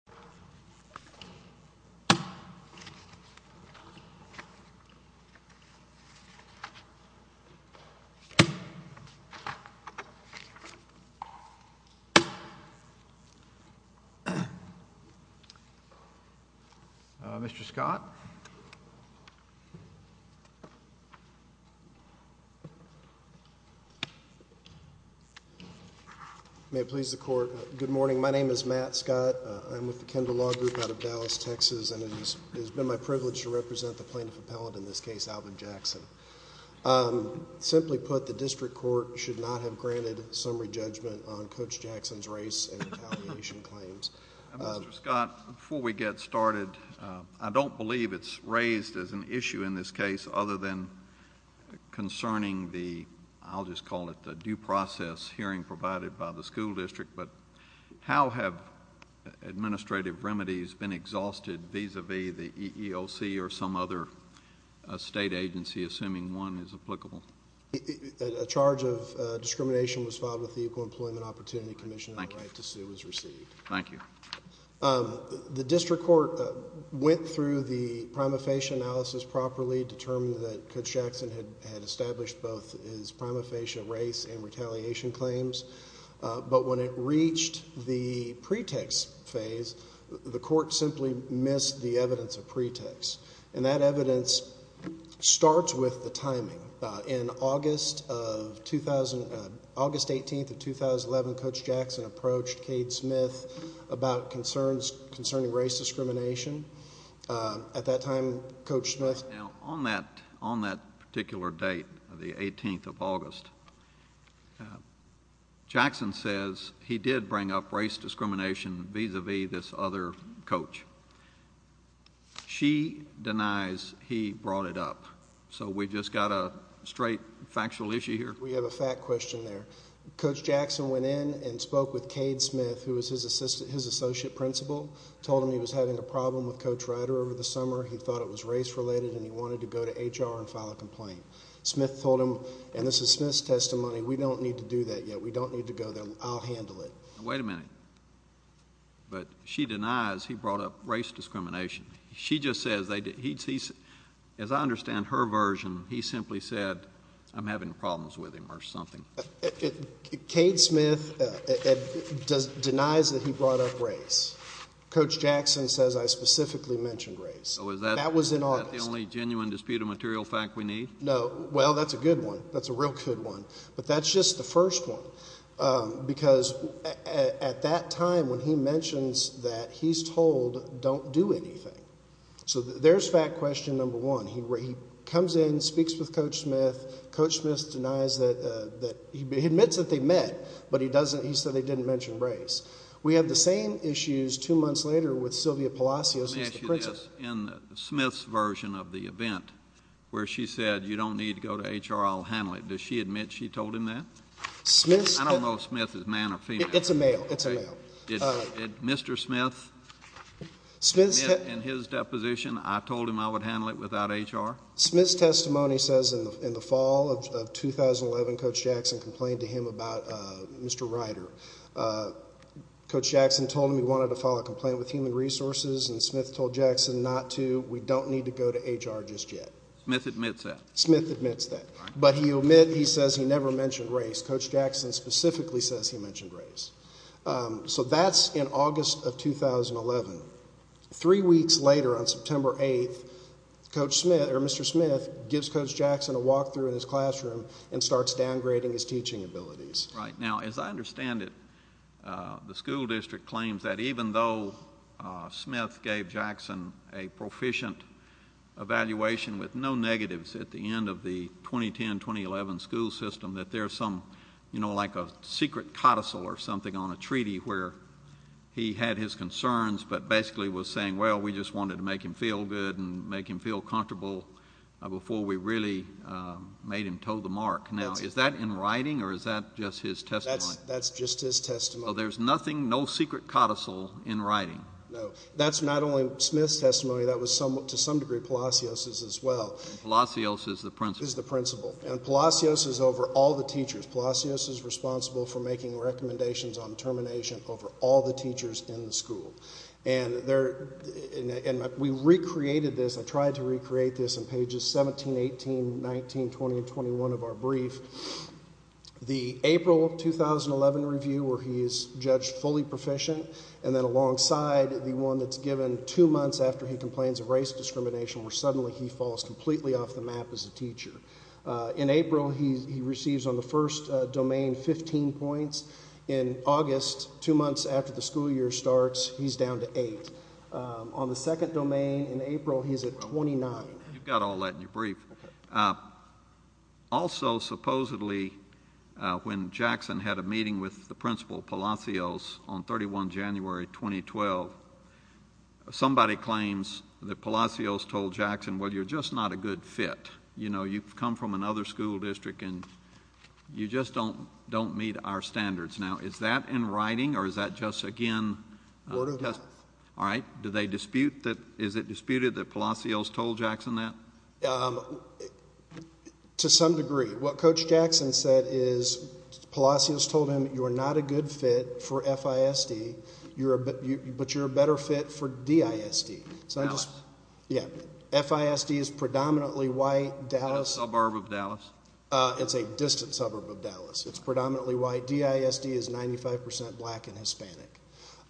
, I'm a member of the Kendall Law Group out of Dallas, Texas, and it has been my privilege to represent the plaintiff appellate, in this case, Alvin Jackson. Simply put, the district court should not have granted summary judgment on Coach Jackson's race and retaliation claims. Mr. Scott, before we get started, I don't believe it's raised as an issue in this case, other than concerning the, I'll just call it the due process hearing provided by the school district, but how have administrative remedies been exhausted vis-a-vis the EEOC or some other state agency, assuming one is applicable? A charge of discrimination was filed with the Equal Employment Opportunity Commission, and a right to sue was received. Thank you. The district court went through the prima facie analysis properly, determined that Coach Jackson had established both his prima facie race and retaliation claims, but when it reached the pretext phase, the court simply missed the evidence of pretext, and that evidence starts with the timing. In August 18th of 2011, Coach Jackson approached Cade Smith about concerns concerning race discrimination. At that time, Coach Smith- Now, on that particular date, the 18th of August, Jackson says he did bring up race discrimination vis-a-vis this other coach. She denies he brought it up, so we just got a straight factual issue here? We have a fact question there. Coach Jackson went in and spoke with Cade Smith, who was his associate principal, told him he was having a problem with Coach Ryder over the summer. He thought it was race related, and he wanted to go to HR and file a complaint. Smith told him, and this is Smith's testimony, we don't need to do that yet. We don't need to go there. I'll handle it. Wait a minute. But she denies he brought up race discrimination. She just says, as I understand her version, he simply said, I'm having problems with him or something. Cade Smith denies that he brought up race. Coach Jackson says, I specifically mentioned race. That was in August. Is that the only genuine dispute of material fact we need? No. Well, that's a good one. That's a real good one. But that's just the first one, because at that time, when he mentions that, he's told, don't do anything. So there's fact question number one. He comes in, speaks with Coach Smith. Coach Smith denies that he admits that they met, but he said he didn't mention race. We have the same issues two months later with Sylvia Palacios. Let me ask you this. In Smith's version of the event where she said you don't need to go to HR, I'll handle it, does she admit she told him that? I don't know if Smith is man or female. It's a male. It's a male. Did Mr. Smith admit in his deposition, I told him I would handle it without HR? Smith's testimony says in the fall of 2011, Coach Jackson complained to him about Mr. Ryder. Coach Jackson told him he wanted to file a complaint with Human Resources, and Smith told Jackson not to. We don't need to go to HR just yet. Smith admits that? Smith admits that. But he says he never mentioned race. Coach Jackson specifically says he mentioned race. So that's in August of 2011. Three weeks later on September 8th, Mr. Smith gives Coach Jackson a walk-through in his classroom and starts downgrading his teaching abilities. Right. Now, as I understand it, the school district claims that even though Smith gave Jackson a proficient evaluation with no negatives at the end of the 2010-2011 school system, you know, like a secret codicil or something on a treaty where he had his concerns but basically was saying, well, we just wanted to make him feel good and make him feel comfortable before we really made him toe the mark. Now, is that in writing or is that just his testimony? That's just his testimony. So there's nothing, no secret codicil in writing? No. That's not only Smith's testimony. That was to some degree Palacios's as well. Palacios is the principal? Is the principal. And Palacios is over all the teachers. Palacios is responsible for making recommendations on termination over all the teachers in the school. And we recreated this. I tried to recreate this in pages 17, 18, 19, 20, and 21 of our brief. The April 2011 review where he is judged fully proficient and then alongside the one that's given two months after he complains of race discrimination where suddenly he falls completely off the map as a teacher. In April, he receives on the first domain 15 points. In August, two months after the school year starts, he's down to 8. On the second domain in April, he's at 29. You've got all that in your brief. Okay. Also, supposedly, when Jackson had a meeting with the principal, Palacios, on 31 January 2012, somebody claims that Palacios told Jackson, well, you're just not a good fit. You know, you've come from another school district, and you just don't meet our standards. Now, is that in writing, or is that just again? Word of mouth. All right. Do they dispute that? Is it disputed that Palacios told Jackson that? To some degree. What Coach Jackson said is Palacios told him, you're not a good fit for FISD, but you're a better fit for DISD. Dallas. Yeah. FISD is predominantly white. Dallas. Suburb of Dallas. It's a distant suburb of Dallas. It's predominantly white. DISD is 95% black and Hispanic.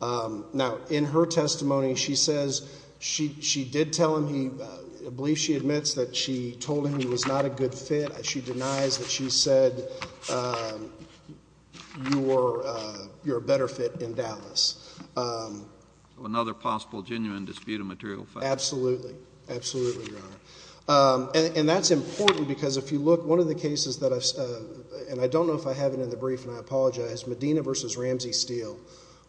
Now, in her testimony, she says she did tell him, I believe she admits that she told him he was not a good fit. She denies that she said you're a better fit in Dallas. Another possible genuine dispute of material facts. Absolutely. Absolutely, Your Honor. And that's important because if you look, one of the cases that I've, and I don't know if I have it in the brief, and I apologize, Medina v. Ramsey-Steele,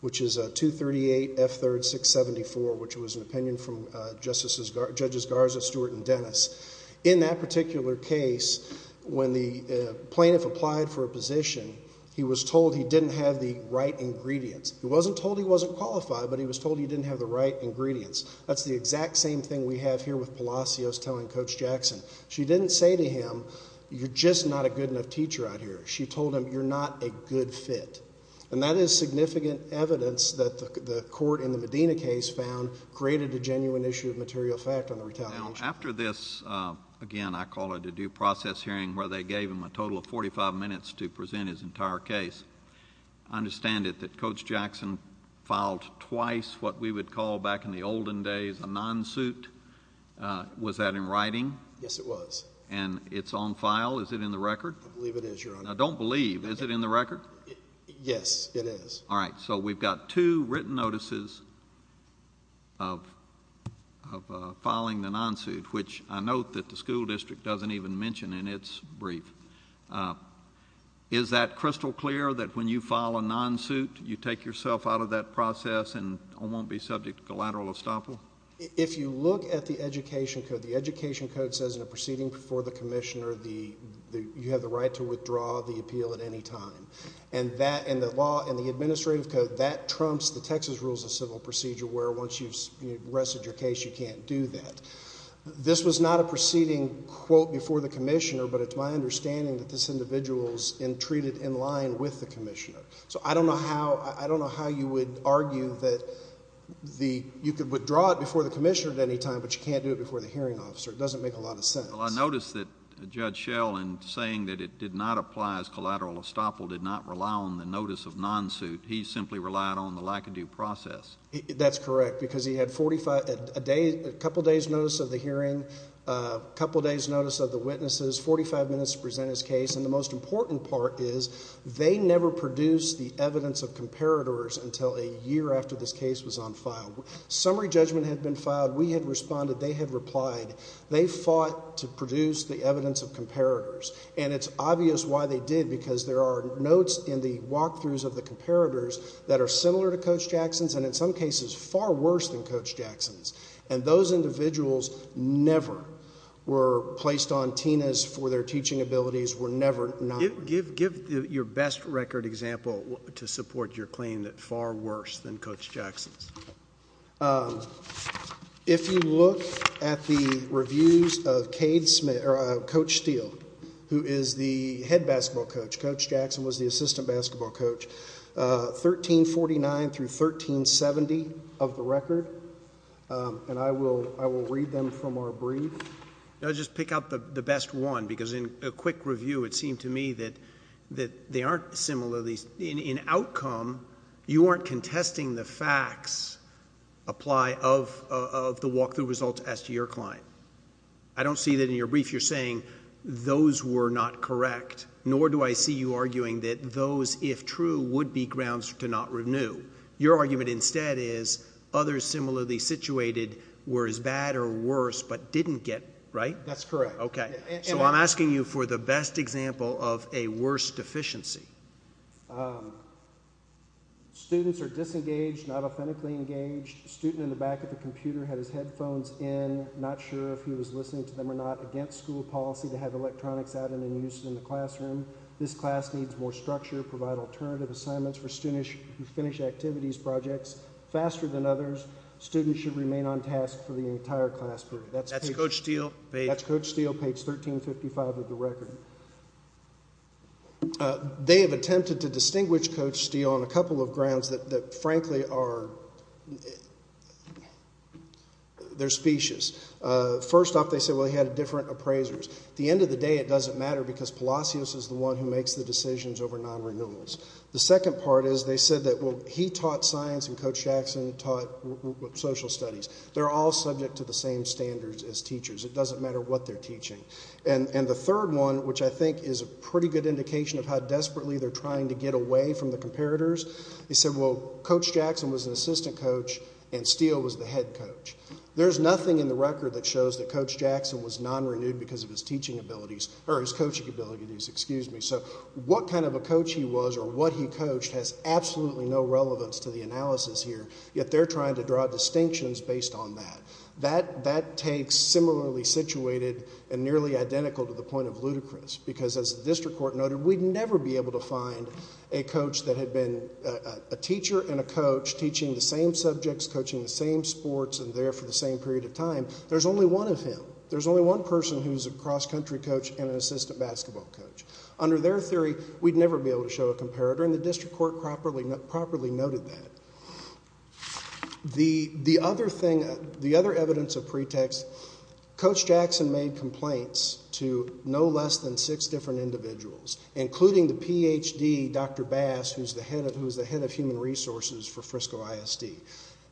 which is 238F3-674, which was an opinion from Judges Garza, Stewart, and Dennis. In that particular case, when the plaintiff applied for a position, he was told he didn't have the right ingredients. He wasn't told he wasn't qualified, but he was told he didn't have the right ingredients. That's the exact same thing we have here with Palacios telling Coach Jackson. She didn't say to him, you're just not a good enough teacher out here. She told him, you're not a good fit. And that is significant evidence that the court in the Medina case found created a genuine issue of material fact on the retaliation. Now, after this, again, I call it a due process hearing where they gave him a total of 45 minutes to present his entire case. I understand it that Coach Jackson filed twice what we would call back in the olden days a non-suit. Was that in writing? Yes, it was. And it's on file? Is it in the record? I believe it is, Your Honor. I don't believe. Is it in the record? Yes, it is. All right. So we've got two written notices of filing the non-suit, which I note that the school district doesn't even mention in its brief. Is that crystal clear that when you file a non-suit, you take yourself out of that process and won't be subject to collateral estoppel? If you look at the education code, the education code says in a proceeding before the commissioner you have the right to withdraw the appeal at any time. And that in the law, in the administrative code, that trumps the Texas rules of civil procedure where once you've rested your case, you can't do that. This was not a proceeding, quote, before the commissioner, but it's my understanding that this individual is treated in line with the commissioner. So I don't know how you would argue that you could withdraw it before the commissioner at any time, but you can't do it before the hearing officer. It doesn't make a lot of sense. Well, I noticed that Judge Schell, in saying that it did not apply as collateral estoppel, did not rely on the notice of non-suit. He simply relied on the lack-of-due process. That's correct, because he had a couple days' notice of the hearing, a couple days' notice of the witnesses, 45 minutes to present his case. And the most important part is they never produced the evidence of comparators until a year after this case was on file. Summary judgment had been filed. We had responded. They had replied. They fought to produce the evidence of comparators. And it's obvious why they did, because there are notes in the walkthroughs of the comparators that are similar to Coach Jackson's and, in some cases, far worse than Coach Jackson's. And those individuals never were placed on TINAs for their teaching abilities, were never not. Give your best record example to support your claim that far worse than Coach Jackson's. If you look at the reviews of Coach Steele, who is the head basketball coach, Coach Jackson was the assistant basketball coach, 1349 through 1370 of the record. And I will read them from our brief. I'll just pick out the best one, because in a quick review, it seemed to me that they aren't similarly. In outcome, you aren't contesting the facts apply of the walkthrough results as to your client. I don't see that in your brief you're saying those were not correct, nor do I see you arguing that those, if true, would be grounds to not renew. Your argument instead is others similarly situated were as bad or worse but didn't get, right? That's correct. Okay. So I'm asking you for the best example of a worse deficiency. Students are disengaged, not authentically engaged. Student in the back of the computer had his headphones in, not sure if he was listening to them or not. Against school policy to have electronics out and in use in the classroom. This class needs more structure. Provide alternative assignments for students who finish activities projects faster than others. Students should remain on task for the entire class period. That's Coach Steele page 1355 of the record. They have attempted to distinguish Coach Steele on a couple of grounds that, frankly, are specious. First off, they said, well, he had different appraisers. At the end of the day, it doesn't matter because Palacios is the one who makes the decisions over non-renewals. The second part is they said that he taught science and Coach Jackson taught social studies. They're all subject to the same standards as teachers. It doesn't matter what they're teaching. The third one, which I think is a pretty good indication of how desperately they're trying to get away from the comparators, they said, well, Coach Jackson was an assistant coach and Steele was the head coach. There's nothing in the record that shows that Coach Jackson was non-renewed because of his coaching abilities. What kind of a coach he was or what he coached has absolutely no relevance to the analysis here, yet they're trying to draw distinctions based on that. That takes similarly situated and nearly identical to the point of ludicrous because, as the district court noted, we'd never be able to find a coach that had been a teacher and a coach teaching the same subjects, coaching the same sports, and there for the same period of time. There's only one of him. There's only one person who's a cross-country coach and an assistant basketball coach. Under their theory, we'd never be able to show a comparator, and the district court properly noted that. The other evidence of pretext, Coach Jackson made complaints to no less than six different individuals, including the Ph.D., Dr. Bass, who's the head of human resources for Frisco ISD.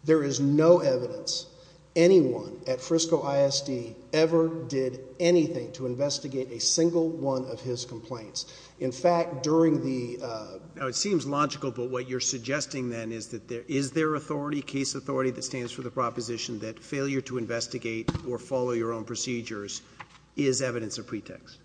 There is no evidence anyone at Frisco ISD ever did anything to investigate a single one of his complaints. In fact, during the- Now, it seems logical, but what you're suggesting then is that there is their authority, case authority that stands for the proposition that failure to investigate or follow your own procedures is evidence of pretext.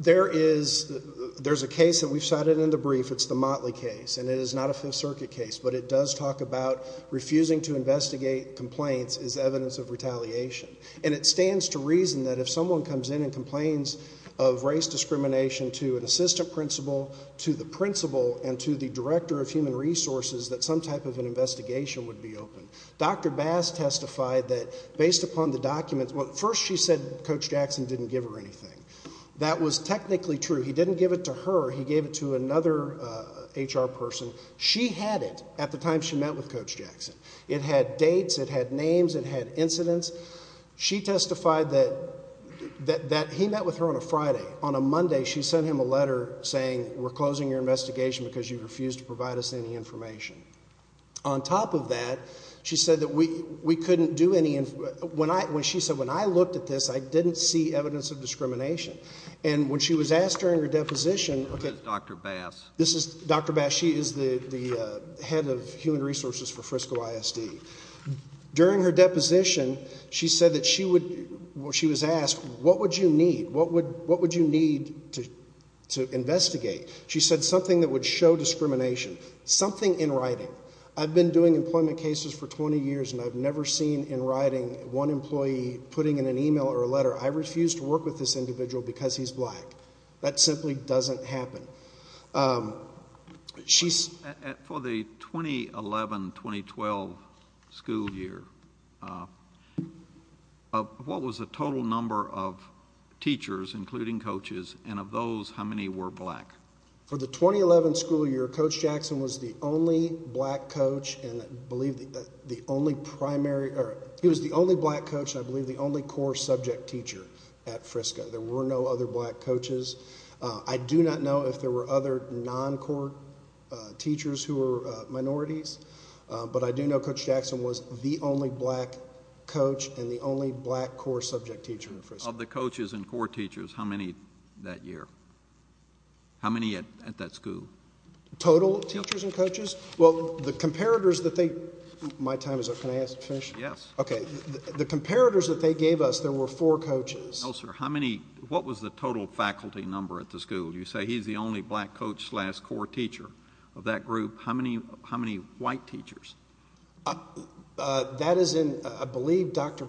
There is. There's a case that we've cited in the brief. It's the Motley case, and it is not a Fifth Circuit case, but it does talk about refusing to investigate complaints is evidence of retaliation, and it stands to reason that if someone comes in and complains of race discrimination to an assistant principal, to the principal, and to the director of human resources, that some type of an investigation would be open. Dr. Bass testified that based upon the documents- Well, at first she said Coach Jackson didn't give her anything. That was technically true. He didn't give it to her. He gave it to another HR person. She had it at the time she met with Coach Jackson. It had dates. It had names. It had incidents. She testified that he met with her on a Friday. On a Monday, she sent him a letter saying we're closing your investigation because you refused to provide us any information. On top of that, she said that we couldn't do any- She said when I looked at this, I didn't see evidence of discrimination, and when she was asked during her deposition- This is Dr. Bass. This is Dr. Bass. She is the head of human resources for Frisco ISD. During her deposition, she said that she would- She was asked, what would you need? What would you need to investigate? She said something that would show discrimination. Something in writing. I've been doing employment cases for 20 years, and I've never seen in writing one employee putting in an email or a letter, I refuse to work with this individual because he's black. That simply doesn't happen. For the 2011-2012 school year, what was the total number of teachers, including coaches, and of those, how many were black? For the 2011 school year, Coach Jackson was the only black coach and I believe the only primary- He was the only black coach and I believe the only core subject teacher at Frisco. There were no other black coaches. I do not know if there were other non-core teachers who were minorities, but I do know Coach Jackson was the only black coach and the only black core subject teacher at Frisco. Of the coaches and core teachers, how many that year? How many at that school? Total teachers and coaches? Yes. Well, the comparators that they- My time is up. Can I finish? Yes. Okay. The comparators that they gave us, there were four coaches. No, sir. How many- What was the total faculty number at the school? You say he's the only black coach slash core teacher of that group. How many white teachers? That is in- I believe Dr.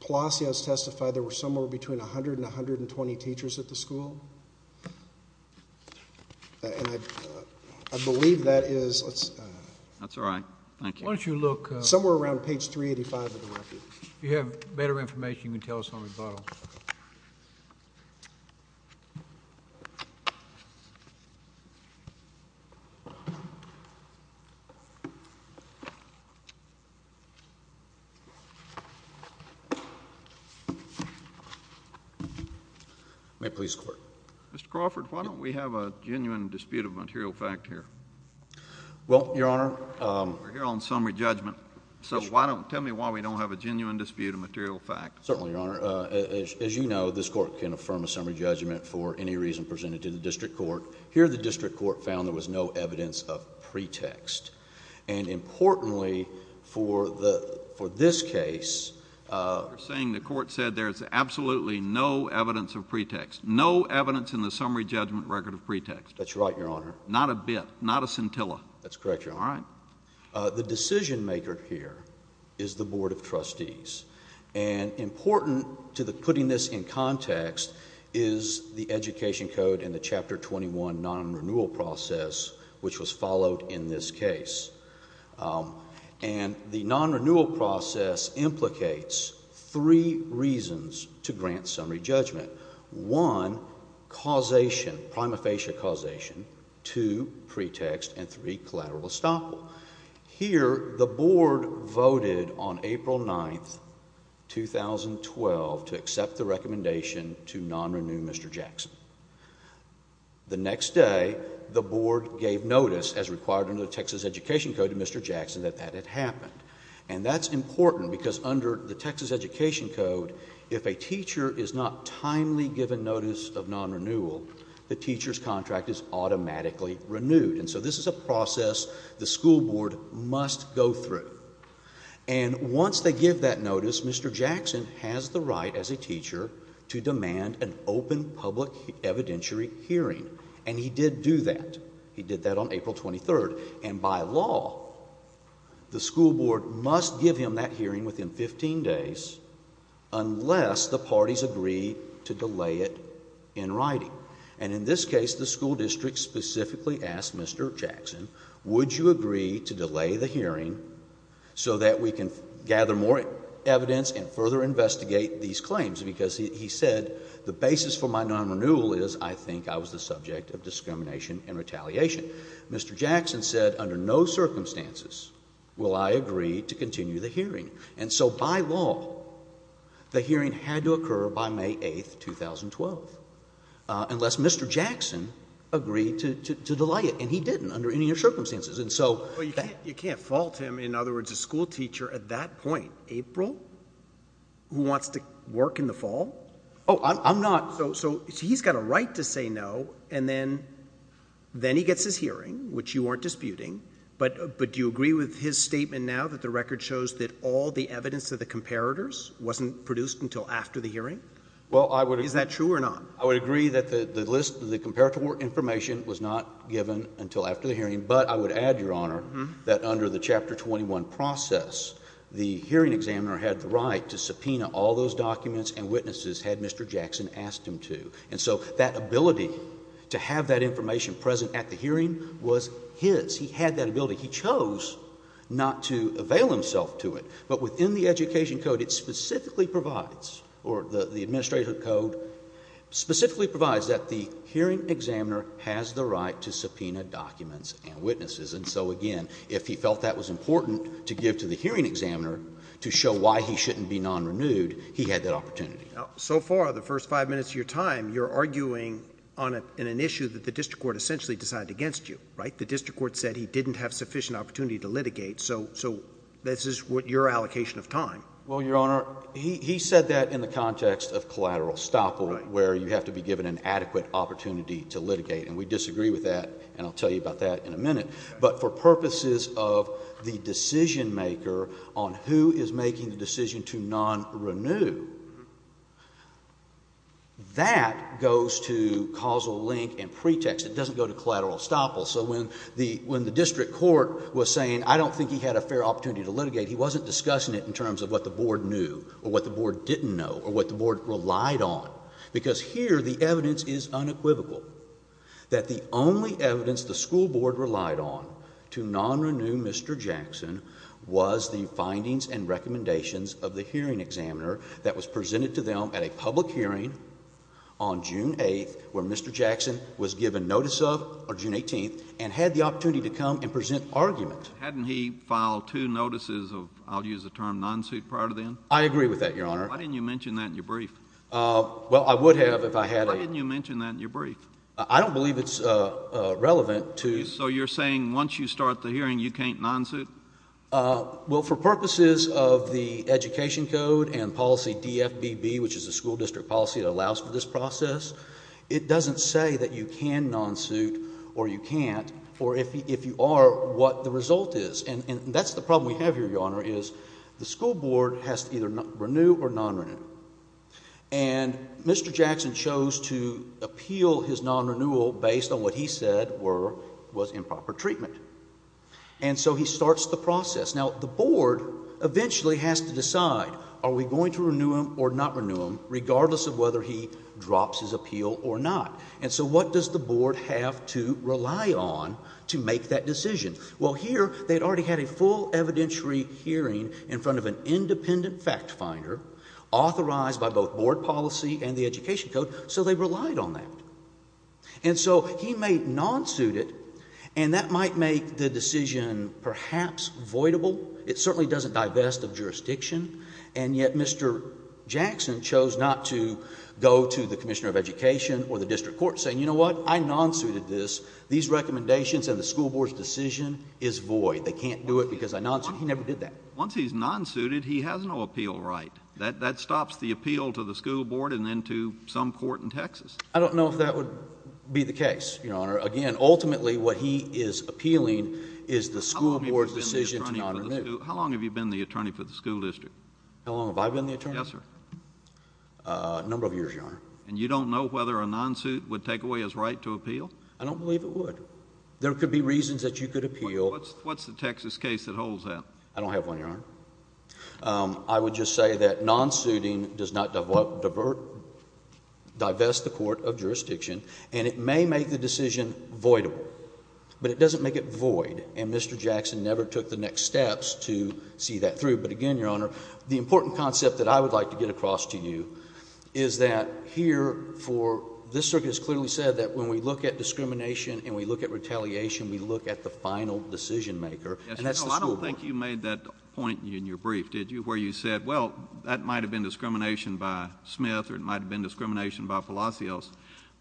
Palacios testified there were somewhere between 100 and 120 teachers at the school. I believe that is- That's all right. Thank you. Why don't you look- Somewhere around page 385 of the record. If you have better information, you can tell us on rebuttal. May it please the Court. Mr. Crawford, why don't we have a genuine dispute of material fact here? Well, Your Honor- We're here on summary judgment. So why don't- Tell me why we don't have a genuine dispute of material fact. Certainly, Your Honor. As you know, this Court can affirm a summary judgment for any reason presented to the District Court. Here, the District Court found there was no evidence of pretext. And importantly, for this case- You're saying the Court said there's absolutely no evidence of pretext. No evidence in the summary judgment record of pretext. That's right, Your Honor. Not a bit. Not a scintilla. That's correct, Your Honor. All right. Now, the decision-maker here is the Board of Trustees. And important to putting this in context is the Education Code and the Chapter 21 non-renewal process, which was followed in this case. And the non-renewal process implicates three reasons to grant summary judgment. One, causation, prima facie causation. Two, pretext. And three, collateral estoppel. Here, the Board voted on April 9, 2012, to accept the recommendation to non-renew Mr. Jackson. The next day, the Board gave notice, as required under the Texas Education Code, to Mr. Jackson that that had happened. And that's important because under the Texas Education Code, if a teacher is not timely given notice of non-renewal, the teacher's contract is automatically renewed. And so this is a process the school board must go through. And once they give that notice, Mr. Jackson has the right as a teacher to demand an open public evidentiary hearing. And he did do that. He did that on April 23. And by law, the school board must give him that hearing within 15 days unless the parties agree to delay it in writing. And in this case, the school district specifically asked Mr. Jackson, would you agree to delay the hearing so that we can gather more evidence and further investigate these claims? Because he said the basis for my non-renewal is I think I was the subject of discrimination and retaliation. Mr. Jackson said under no circumstances will I agree to continue the hearing. And so by law, the hearing had to occur by May 8, 2012, unless Mr. Jackson agreed to delay it. And he didn't under any of your circumstances. And so that you can't fault him. In other words, a school teacher at that point, April, who wants to work in the fall? Oh, I'm not. So he's got a right to say no. And then he gets his hearing, which you aren't disputing. But do you agree with his statement now that the record shows that all the evidence of the comparators wasn't produced until after the hearing? Well, I would agree. Is that true or not? I would agree that the list of the comparator information was not given until after the hearing. But I would add, Your Honor, that under the Chapter 21 process, the hearing examiner had the right to subpoena all those documents and witnesses had Mr. Jackson asked him to. And so that ability to have that information present at the hearing was his. He had that ability. He chose not to avail himself to it. But within the Education Code, it specifically provides, or the Administrative Code specifically provides that the hearing examiner has the right to subpoena documents and witnesses. And so, again, if he felt that was important to give to the hearing examiner to show why he shouldn't be non-renewed, he had that opportunity. Now, so far, the first five minutes of your time, you're arguing on an issue that the district court essentially decided against you, right? The district court said he didn't have sufficient opportunity to litigate. So this is your allocation of time. Well, Your Honor, he said that in the context of collateral stoppage, where you have to be given an adequate opportunity to litigate. And we disagree with that. And I'll tell you about that in a minute. But for purposes of the decision-maker on who is making the decision to non-renew, that goes to causal link and pretext. It doesn't go to collateral estoppel. So when the district court was saying, I don't think he had a fair opportunity to litigate, he wasn't discussing it in terms of what the board knew or what the board didn't know or what the board relied on. Because here, the evidence is unequivocal, that the only evidence the school board relied on to non-renew Mr. Jackson was the findings and recommendations of the hearing examiner that was presented to them at a public hearing on June 8th, where Mr. Jackson was given notice of, or June 18th, and had the opportunity to come and present argument. Hadn't he filed two notices of, I'll use the term, non-suit prior to then? I agree with that, Your Honor. Why didn't you mention that in your brief? Well, I would have if I had a... Why didn't you mention that in your brief? I don't believe it's relevant to... So you're saying once you start the hearing, you can't non-suit? Well, for purposes of the education code and policy DFBB, which is a school district policy that allows for this process, it doesn't say that you can non-suit or you can't, or if you are, what the result is. And that's the problem we have here, Your Honor, is the school board has to either And Mr. Jackson chose to appeal his non-renewal based on what he said was improper treatment. And so he starts the process. Now, the board eventually has to decide, are we going to renew him or not renew him, regardless of whether he drops his appeal or not? And so what does the board have to rely on to make that decision? Well, here they'd already had a full evidentiary hearing in front of an independent fact finder authorized by both board policy and the education code. So they relied on that. And so he may non-suit it, and that might make the decision perhaps voidable. It certainly doesn't divest of jurisdiction. And yet Mr. Jackson chose not to go to the commissioner of education or the district court saying, you know what, I non-suited this. These recommendations and the school board's decision is void. They can't do it because I non-suited. He never did that. Once he's non-suited, he has no appeal right. That stops the appeal to the school board and then to some court in Texas. I don't know if that would be the case, Your Honor. Again, ultimately what he is appealing is the school board's decision to not renew. How long have you been the attorney for the school district? How long have I been the attorney? Yes, sir. A number of years, Your Honor. And you don't know whether a non-suit would take away his right to appeal? I don't believe it would. There could be reasons that you could appeal. What's the Texas case that holds that? I don't have one, Your Honor. I would just say that non-suiting does not divest the court of jurisdiction and it may make the decision voidable, but it doesn't make it void and Mr. Jackson never took the next steps to see that through. But again, Your Honor, the important concept that I would like to get across to you is that here for this circuit has clearly said that when we look at discrimination and we look at retaliation, we look at the final decision maker and that's the school board. I don't think you made that point in your brief, did you, where you said, well, that might have been discrimination by Smith or it might have been discrimination by Palacios,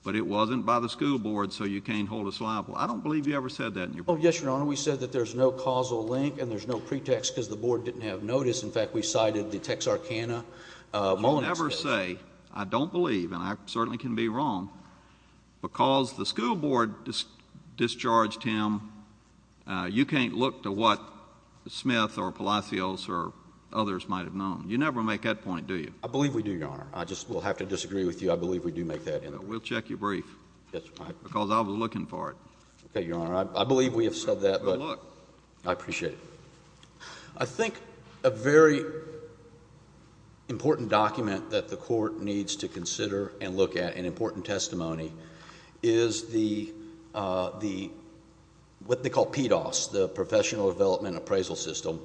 but it wasn't by the school board so you can't hold us liable. I don't believe you ever said that in your brief. Oh, yes, Your Honor. We said that there's no causal link and there's no pretext because the board didn't have notice. In fact, we cited the Texarkana. You never say, I don't believe, and I certainly can be wrong, because the school board discharged him. You can't look to what Smith or Palacios or others might have known. You never make that point, do you? I believe we do, Your Honor. I just will have to disagree with you. I believe we do make that. We'll check your brief. That's fine. Because I was looking for it. Okay, Your Honor. I believe we have said that, but I appreciate it. I think a very important document that the court needs to consider and look at, an important testimony, is what they call PDOS, the Professional Development Appraisal System,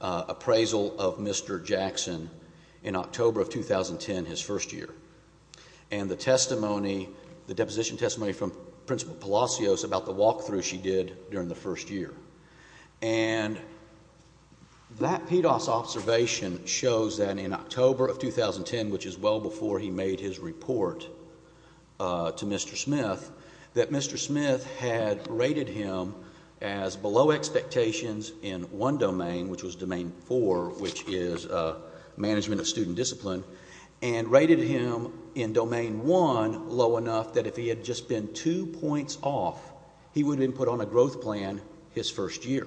appraisal of Mr. Jackson in October of 2010, his first year. And the deposition testimony from Principal Palacios about the walkthrough she did during the first year. And that PDOS observation shows that in October of 2010, which is well before he made his report to Mr. Smith, that Mr. Smith had rated him as below expectations in one domain, which was domain four, which is management of student discipline, and rated him in domain one low enough that if he had just been two points off, he would have been put on a growth plan his first year.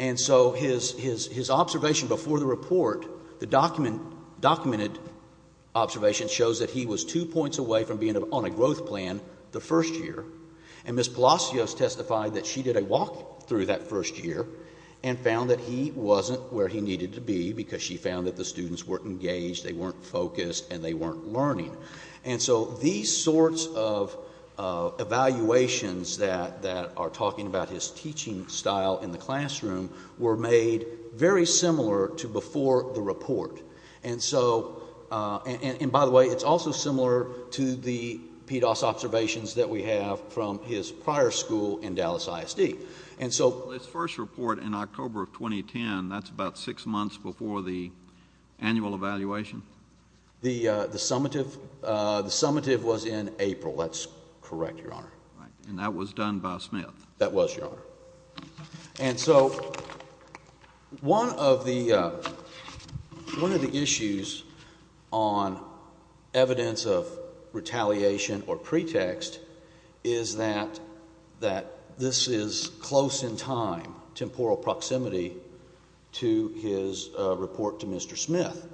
And so his observation before the report, the documented observation, shows that he was two points away from being on a growth plan the first year. And Ms. Palacios testified that she did a walkthrough that first year and found that he wasn't where he needed to be because she found that the students weren't engaged, they weren't focused, and they weren't learning. And so these sorts of evaluations that are talking about his teaching style in the classroom were made very similar to before the report. And by the way, it's also similar to the PDOS observations that we have from his prior school in Dallas ISD. Well, his first report in October of 2010, that's about six months before the annual evaluation? The summative was in April. That's correct, Your Honor. And that was done by Smith? That was, Your Honor. And so one of the issues on evidence of retaliation or pretext is that this is close in time, temporal proximity, to his report to Mr. Smith.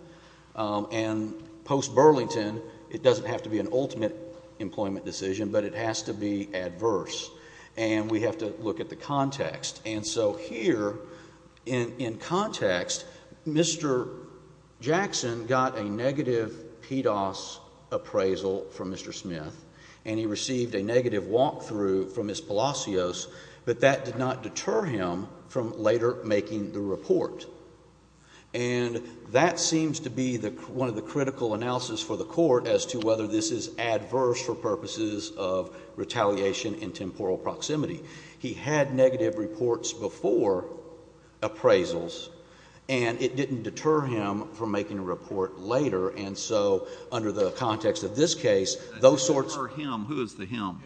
And post Burlington, it doesn't have to be an ultimate employment decision, but it has to be adverse, and we have to look at the context. And so here, in context, Mr. Jackson got a negative PDOS appraisal from Mr. Smith, and he received a negative walkthrough from Ms. Palacios, but that did not deter him from later making the report. And that seems to be one of the critical analysis for the Court as to whether this is adverse for purposes of retaliation in temporal proximity. He had negative reports before appraisals, and it didn't deter him from making a report later. And so under the context of this case, those sorts of — Deter him? Who is the him?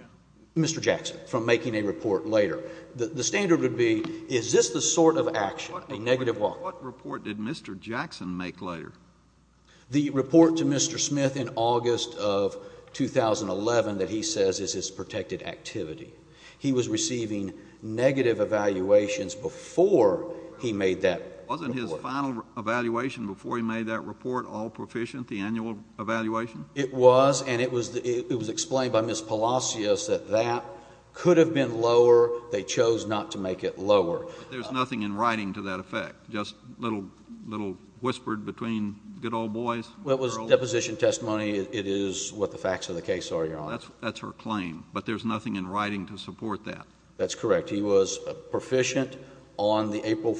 Mr. Jackson, from making a report later. The standard would be, is this the sort of action, a negative walkthrough? What report did Mr. Jackson make later? The report to Mr. Smith in August of 2011 that he says is his protected activity. He was receiving negative evaluations before he made that report. Wasn't his final evaluation before he made that report all proficient, the annual evaluation? It was, and it was explained by Ms. Palacios that that could have been lower, they chose not to make it lower. There's nothing in writing to that effect, just a little whispered between good old boys? Well, it was deposition testimony. It is what the facts of the case are, Your Honor. That's her claim, but there's nothing in writing to support that. That's correct. He was proficient on the April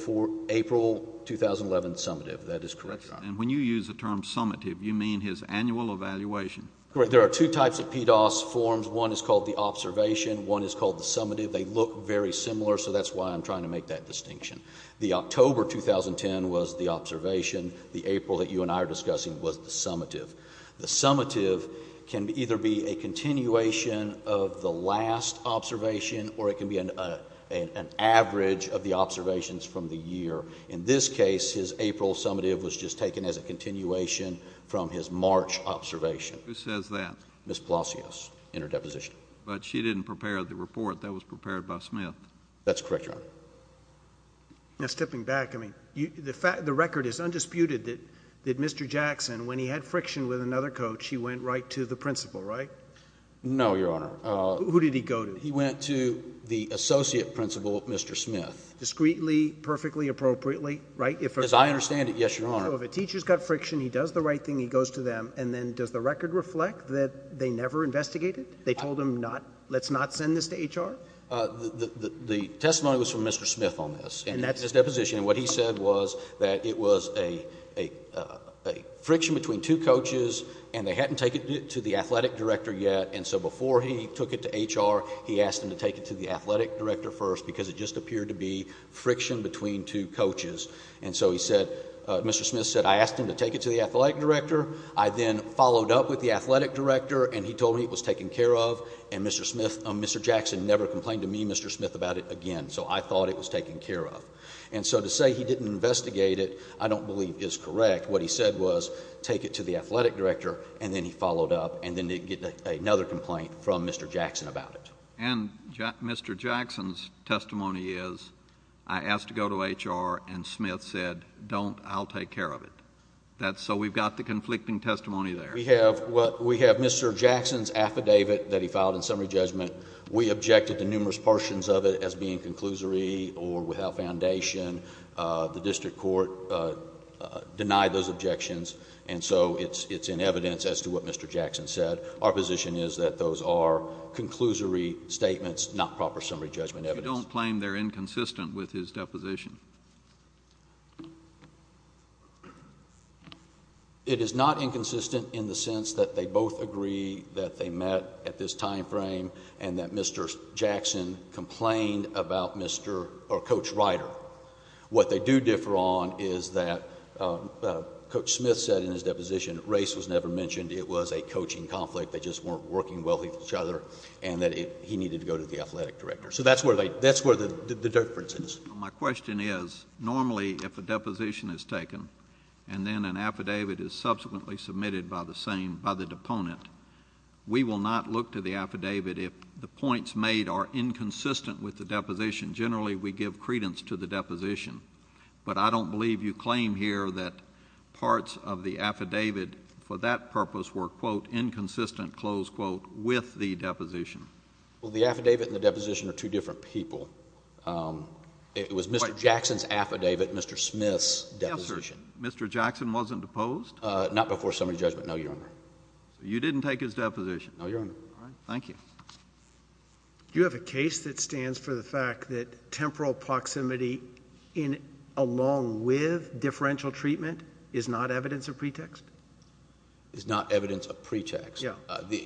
2011 summative. That is correct, Your Honor. And when you use the term summative, you mean his annual evaluation. Correct. There are two types of PDOS forms. One is called the observation. One is called the summative. They look very similar, so that's why I'm trying to make that distinction. The October 2010 was the observation. The April that you and I are discussing was the summative. The summative can either be a continuation of the last observation or it can be an average of the observations from the year. In this case, his April summative was just taken as a continuation from his March observation. Who says that? Ms. Palacios in her deposition. But she didn't prepare the report. That was prepared by Smith. That's correct, Your Honor. Now, stepping back, I mean, the record is undisputed that Mr. Jackson, when he had friction with another coach, he went right to the principal, right? No, Your Honor. Who did he go to? He went to the associate principal, Mr. Smith. Discreetly, perfectly, appropriately, right? As I understand it, yes, Your Honor. So if a teacher's got friction, he does the right thing, he goes to them, and then does the record reflect that they never investigated? They told him, let's not send this to HR? The testimony was from Mr. Smith on this in his deposition. And what he said was that it was a friction between two coaches and they hadn't taken it to the athletic director yet, and so before he took it to HR, he asked him to take it to the athletic director first because it just appeared to be friction between two coaches. And so he said, Mr. Smith said, I asked him to take it to the athletic director. I then followed up with the athletic director, and he told me it was taken care of, and Mr. Jackson never complained to me, Mr. Smith, about it again, so I thought it was taken care of. And so to say he didn't investigate it I don't believe is correct. What he said was take it to the athletic director, and then he followed up, and then they get another complaint from Mr. Jackson about it. And Mr. Jackson's testimony is, I asked to go to HR, and Smith said, don't, I'll take care of it. That's so we've got the conflicting testimony there. We have Mr. Jackson's affidavit that he filed in summary judgment. We objected to numerous portions of it as being conclusory or without foundation. The district court denied those objections, and so it's in evidence as to what Mr. Jackson said. Our position is that those are conclusory statements, not proper summary judgment evidence. They don't claim they're inconsistent with his deposition. It is not inconsistent in the sense that they both agree that they met at this time frame and that Mr. Jackson complained about Mr. or Coach Ryder. What they do differ on is that Coach Smith said in his deposition race was never mentioned. It was a coaching conflict. They just weren't working well with each other, and that he needed to go to the athletic director. So that's where the difference is. My question is, normally if a deposition is taken and then an affidavit is subsequently submitted by the same, by the deponent, we will not look to the affidavit if the points made are inconsistent with the deposition. Generally, we give credence to the deposition, but I don't believe you claim here that parts of the affidavit for that purpose were, quote, inconsistent, close quote, with the deposition. Well, the affidavit and the deposition are two different people. It was Mr. Jackson's affidavit, Mr. Smith's deposition. Yes, sir. Mr. Jackson wasn't deposed? Not before summary judgment, no, Your Honor. So you didn't take his deposition? No, Your Honor. All right. Thank you. Do you have a case that stands for the fact that temporal proximity along with differential treatment is not evidence of pretext? It's not evidence of pretext. Yeah.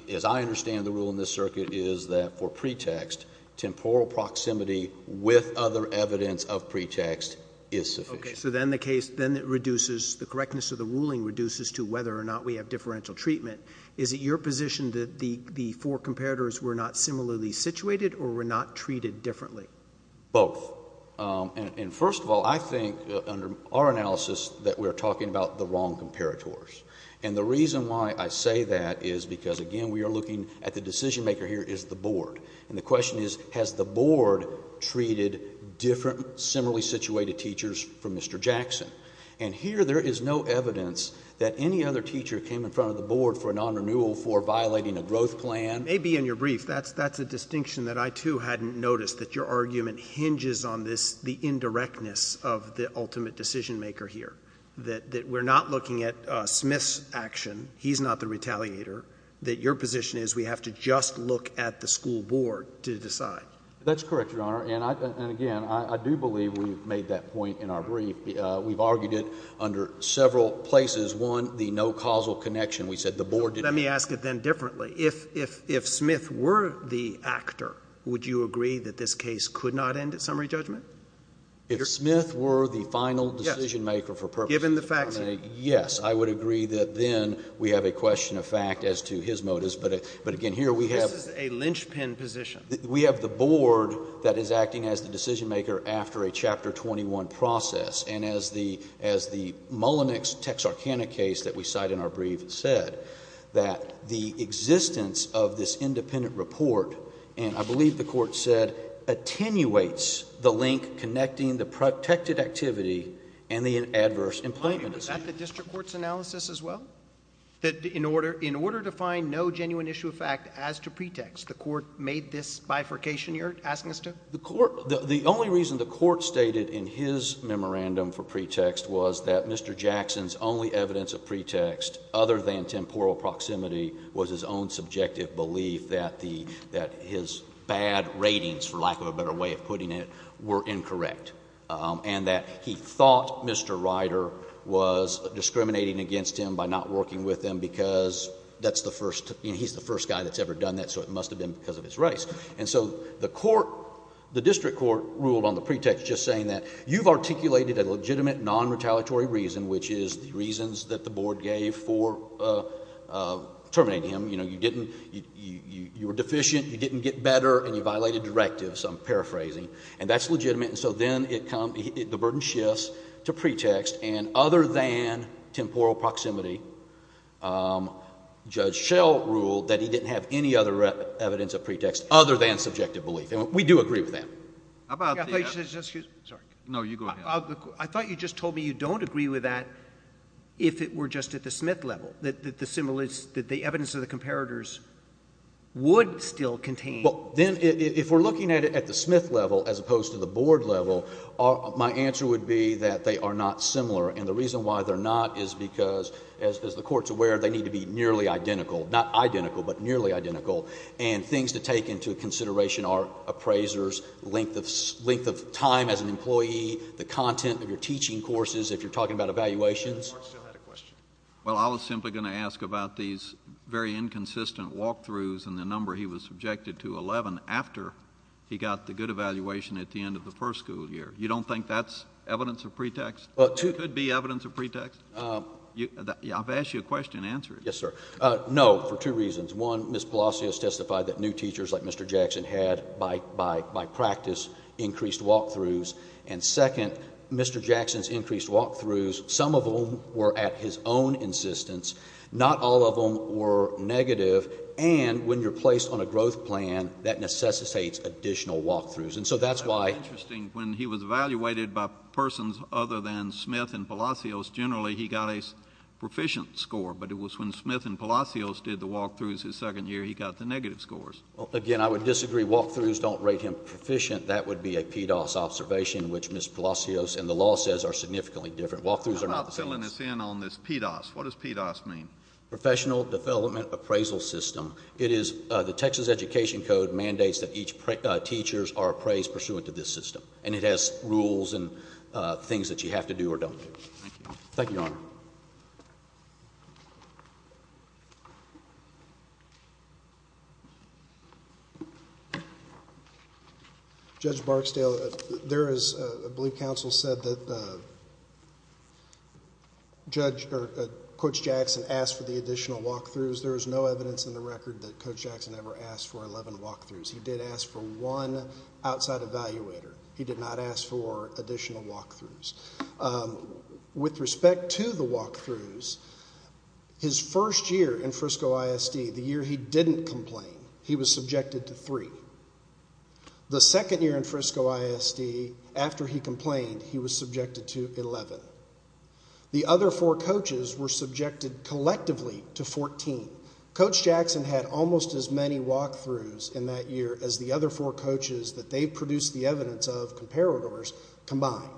As I understand the rule in this circuit is that for pretext, temporal proximity with other evidence of pretext is sufficient. Okay. So then the case, then it reduces, the correctness of the ruling reduces to whether or not we have differential treatment. Is it your position that the four comparators were not similarly situated or were not treated differently? Both. And first of all, I think under our analysis that we are talking about the wrong comparators. And the reason why I say that is because, again, we are looking at the decision maker here is the board. And the question is, has the board treated different similarly situated teachers from Mr. Jackson? And here there is no evidence that any other teacher came in front of the board for a non-renewal for violating a growth plan. Maybe in your brief, that's a distinction that I, too, hadn't noticed, that your argument hinges on this, the indirectness of the ultimate decision maker here, that we're not looking at Smith's action, he's not the retaliator, that your position is we have to just look at the school board to decide. That's correct, Your Honor. And, again, I do believe we've made that point in our brief. We've argued it under several places. One, the no causal connection. We said the board did not. Let me ask it then differently. If Smith were the actor, would you agree that this case could not end at summary judgment? If Smith were the final decision maker for purpose of argument? Yes. Given the facts. Yes. I would agree that then we have a question of fact as to his motives. But, again, here we have a lynchpin position. We have the board that is acting as the decision maker after a Chapter 21 process. And as the Mullinex-Texarkana case that we cite in our brief said, that the existence of this independent report, and I believe the court said attenuates the link connecting the protected activity and the adverse employment. Was that the district court's analysis as well? That in order to find no genuine issue of fact as to pretext, the court made this bifurcation you're asking us to? The only reason the court stated in his memorandum for pretext was that Mr. Jackson's only evidence of pretext other than temporal proximity was his own subjective belief that the — that his bad ratings, for lack of a better way of putting it, were incorrect. And that he thought Mr. Ryder was discriminating against him by not working with him because that's the first — he's the first guy that's ever done that, so it must have been because of his race. And so the court — the district court ruled on the pretext just saying that you've articulated a legitimate nonretaliatory reason, which is the reasons that the board gave for terminating him. You know, you didn't — you were deficient, you didn't get better, and you violated directives. I'm paraphrasing. And that's legitimate. And so then it comes — the burden shifts to pretext, and other than temporal proximity, Judge Schell ruled that he didn't have any other evidence of pretext other than subjective belief. And we do agree with that. How about the — Excuse me. Sorry. No, you go ahead. I thought you just told me you don't agree with that if it were just at the Smith level, that the evidence of the comparators would still contain — Well, then if we're looking at it at the Smith level as opposed to the board level, my answer would be that they are not similar. And the reason why they're not is because, as the Court's aware, they need to be nearly identical — not identical, but nearly identical. And things to take into consideration are appraisers, length of time as an employee, the content of your teaching courses if you're talking about evaluations. The Court still had a question. Well, I was simply going to ask about these very inconsistent walkthroughs and the number he was subjected to, 11, after he got the good evaluation at the end of the first school year. You don't think that's evidence of pretext? It could be evidence of pretext? I've asked you a question. Answer it. Yes, sir. No, for two reasons. One, Ms. Palacios testified that new teachers like Mr. Jackson had, by practice, increased walkthroughs. And, second, Mr. Jackson's increased walkthroughs, some of them were at his own insistence. Not all of them were negative. And when you're placed on a growth plan, that necessitates additional walkthroughs. And so that's why — That's interesting. When he was evaluated by persons other than Smith and Palacios, generally he got a proficient score. But it was when Smith and Palacios did the walkthroughs his second year, he got the negative scores. Well, again, I would disagree. Walkthroughs don't rate him proficient. That would be a PDOS observation, which Ms. Palacios and the law says are significantly different. Walkthroughs are not the same. How about filling us in on this PDOS? What does PDOS mean? Professional Development Appraisal System. It is — the Texas Education Code mandates that each teacher is appraised pursuant to this system. And it has rules and things that you have to do or don't do. Thank you, Your Honor. Judge Barksdale, there is — I believe counsel said that Coach Jackson asked for the additional walkthroughs. There is no evidence in the record that Coach Jackson ever asked for 11 walkthroughs. He did ask for one outside evaluator. He did not ask for additional walkthroughs. With respect to the walkthroughs, his first year in Frisco ISD, the year he didn't complain, he was subjected to three. The second year in Frisco ISD, after he complained, he was subjected to 11. The other four coaches were subjected collectively to 14. Coach Jackson had almost as many walkthroughs in that year as the other four coaches that they produced the evidence of, comparators, combined.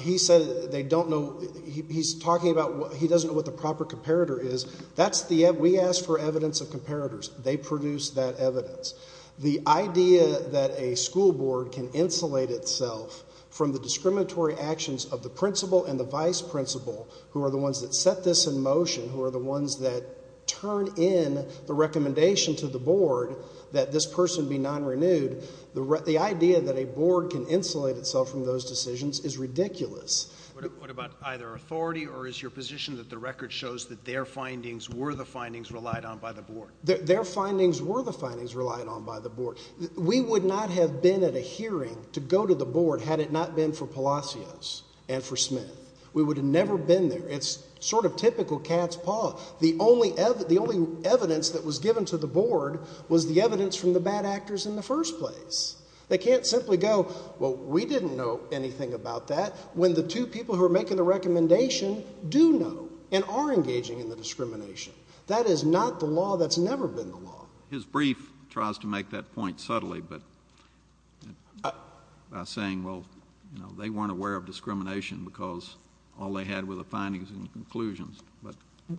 He said they don't know — he's talking about he doesn't know what the proper comparator is. That's the — we ask for evidence of comparators. They produce that evidence. The idea that a school board can insulate itself from the discriminatory actions of the principal and the vice principal, who are the ones that set this in motion, who are the ones that turn in the recommendation to the board that this person be non-renewed, the idea that a board can insulate itself from those decisions is ridiculous. What about either authority or is your position that the record shows that their findings were the findings relied on by the board? Their findings were the findings relied on by the board. We would not have been at a hearing to go to the board had it not been for Palacios and for Smith. We would have never been there. It's sort of typical cat's paw. The only evidence that was given to the board was the evidence from the bad actors in the first place. They can't simply go, well, we didn't know anything about that, when the two people who are making the recommendation do know and are engaging in the discrimination. That is not the law that's never been the law. His brief tries to make that point subtly by saying, well, they weren't aware of discrimination because all they had were the findings and conclusions.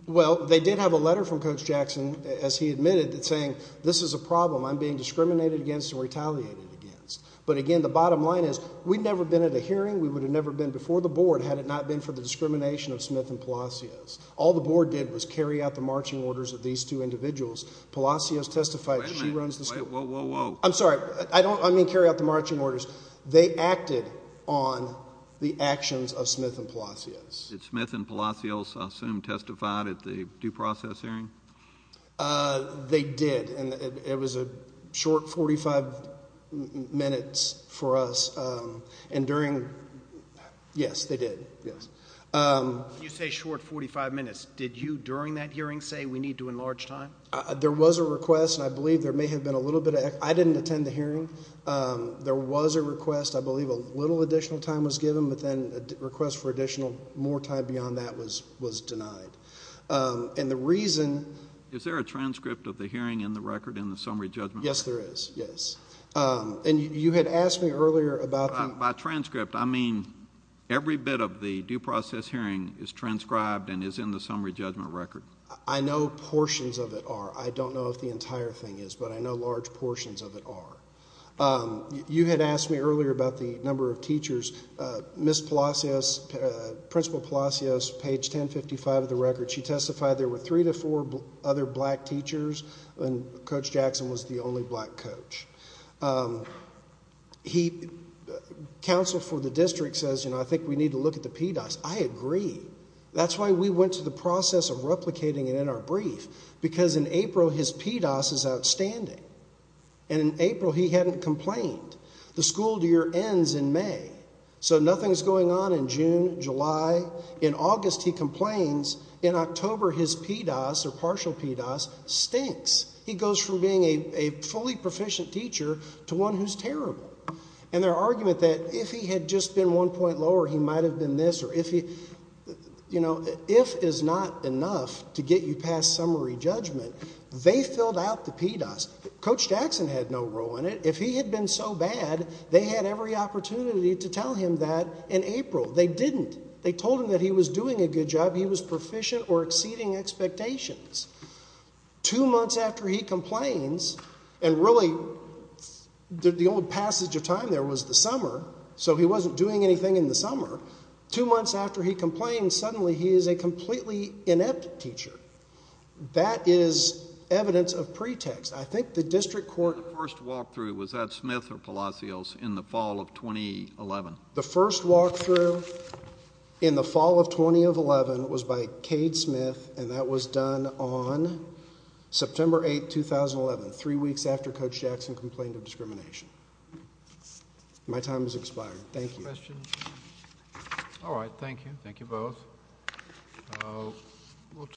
Well, they did have a letter from Coach Jackson, as he admitted, saying this is a problem I'm being discriminated against and retaliated against. But, again, the bottom line is we'd never been at a hearing. We would have never been before the board had it not been for the discrimination of Smith and Palacios. All the board did was carry out the marching orders of these two individuals. Palacios testified that she runs the school. Wait a minute. Whoa, whoa, whoa. I'm sorry. I don't mean carry out the marching orders. They acted on the actions of Smith and Palacios. Did Smith and Palacios, I assume, testify at the due process hearing? They did, and it was a short 45 minutes for us. And during – yes, they did, yes. When you say short 45 minutes, did you during that hearing say we need to enlarge time? There was a request, and I believe there may have been a little bit of – I didn't attend the hearing. There was a request. I believe a little additional time was given, but then a request for additional more time beyond that was denied. And the reason – Is there a transcript of the hearing in the record in the summary judgment? Yes, there is, yes. And you had asked me earlier about the – is transcribed and is in the summary judgment record? I know portions of it are. I don't know if the entire thing is, but I know large portions of it are. You had asked me earlier about the number of teachers. Ms. Palacios, Principal Palacios, page 1055 of the record, she testified there were three to four other black teachers, and Coach Jackson was the only black coach. He – counsel for the district says, you know, I think we need to look at the PDOS. I agree. That's why we went to the process of replicating it in our brief, because in April his PDOS is outstanding. And in April he hadn't complained. The school year ends in May, so nothing's going on in June, July. In August he complains. In October his PDOS, or partial PDOS, stinks. He goes from being a fully proficient teacher to one who's terrible. And their argument that if he had just been one point lower, he might have been this, or if he – you know, if is not enough to get you past summary judgment. They filled out the PDOS. Coach Jackson had no role in it. If he had been so bad, they had every opportunity to tell him that in April. They didn't. They told him that he was doing a good job, he was proficient or exceeding expectations. Two months after he complains, and really the old passage of time there was the summer, so he wasn't doing anything in the summer. Two months after he complained, suddenly he is a completely inept teacher. That is evidence of pretext. I think the district court... The first walkthrough, was that Smith or Palacios, in the fall of 2011? The first walkthrough in the fall of 2011 was by Cade Smith, and that was done on September 8, 2011, three weeks after Coach Jackson complained of discrimination. My time has expired. Thank you. All right, thank you. Thank you both.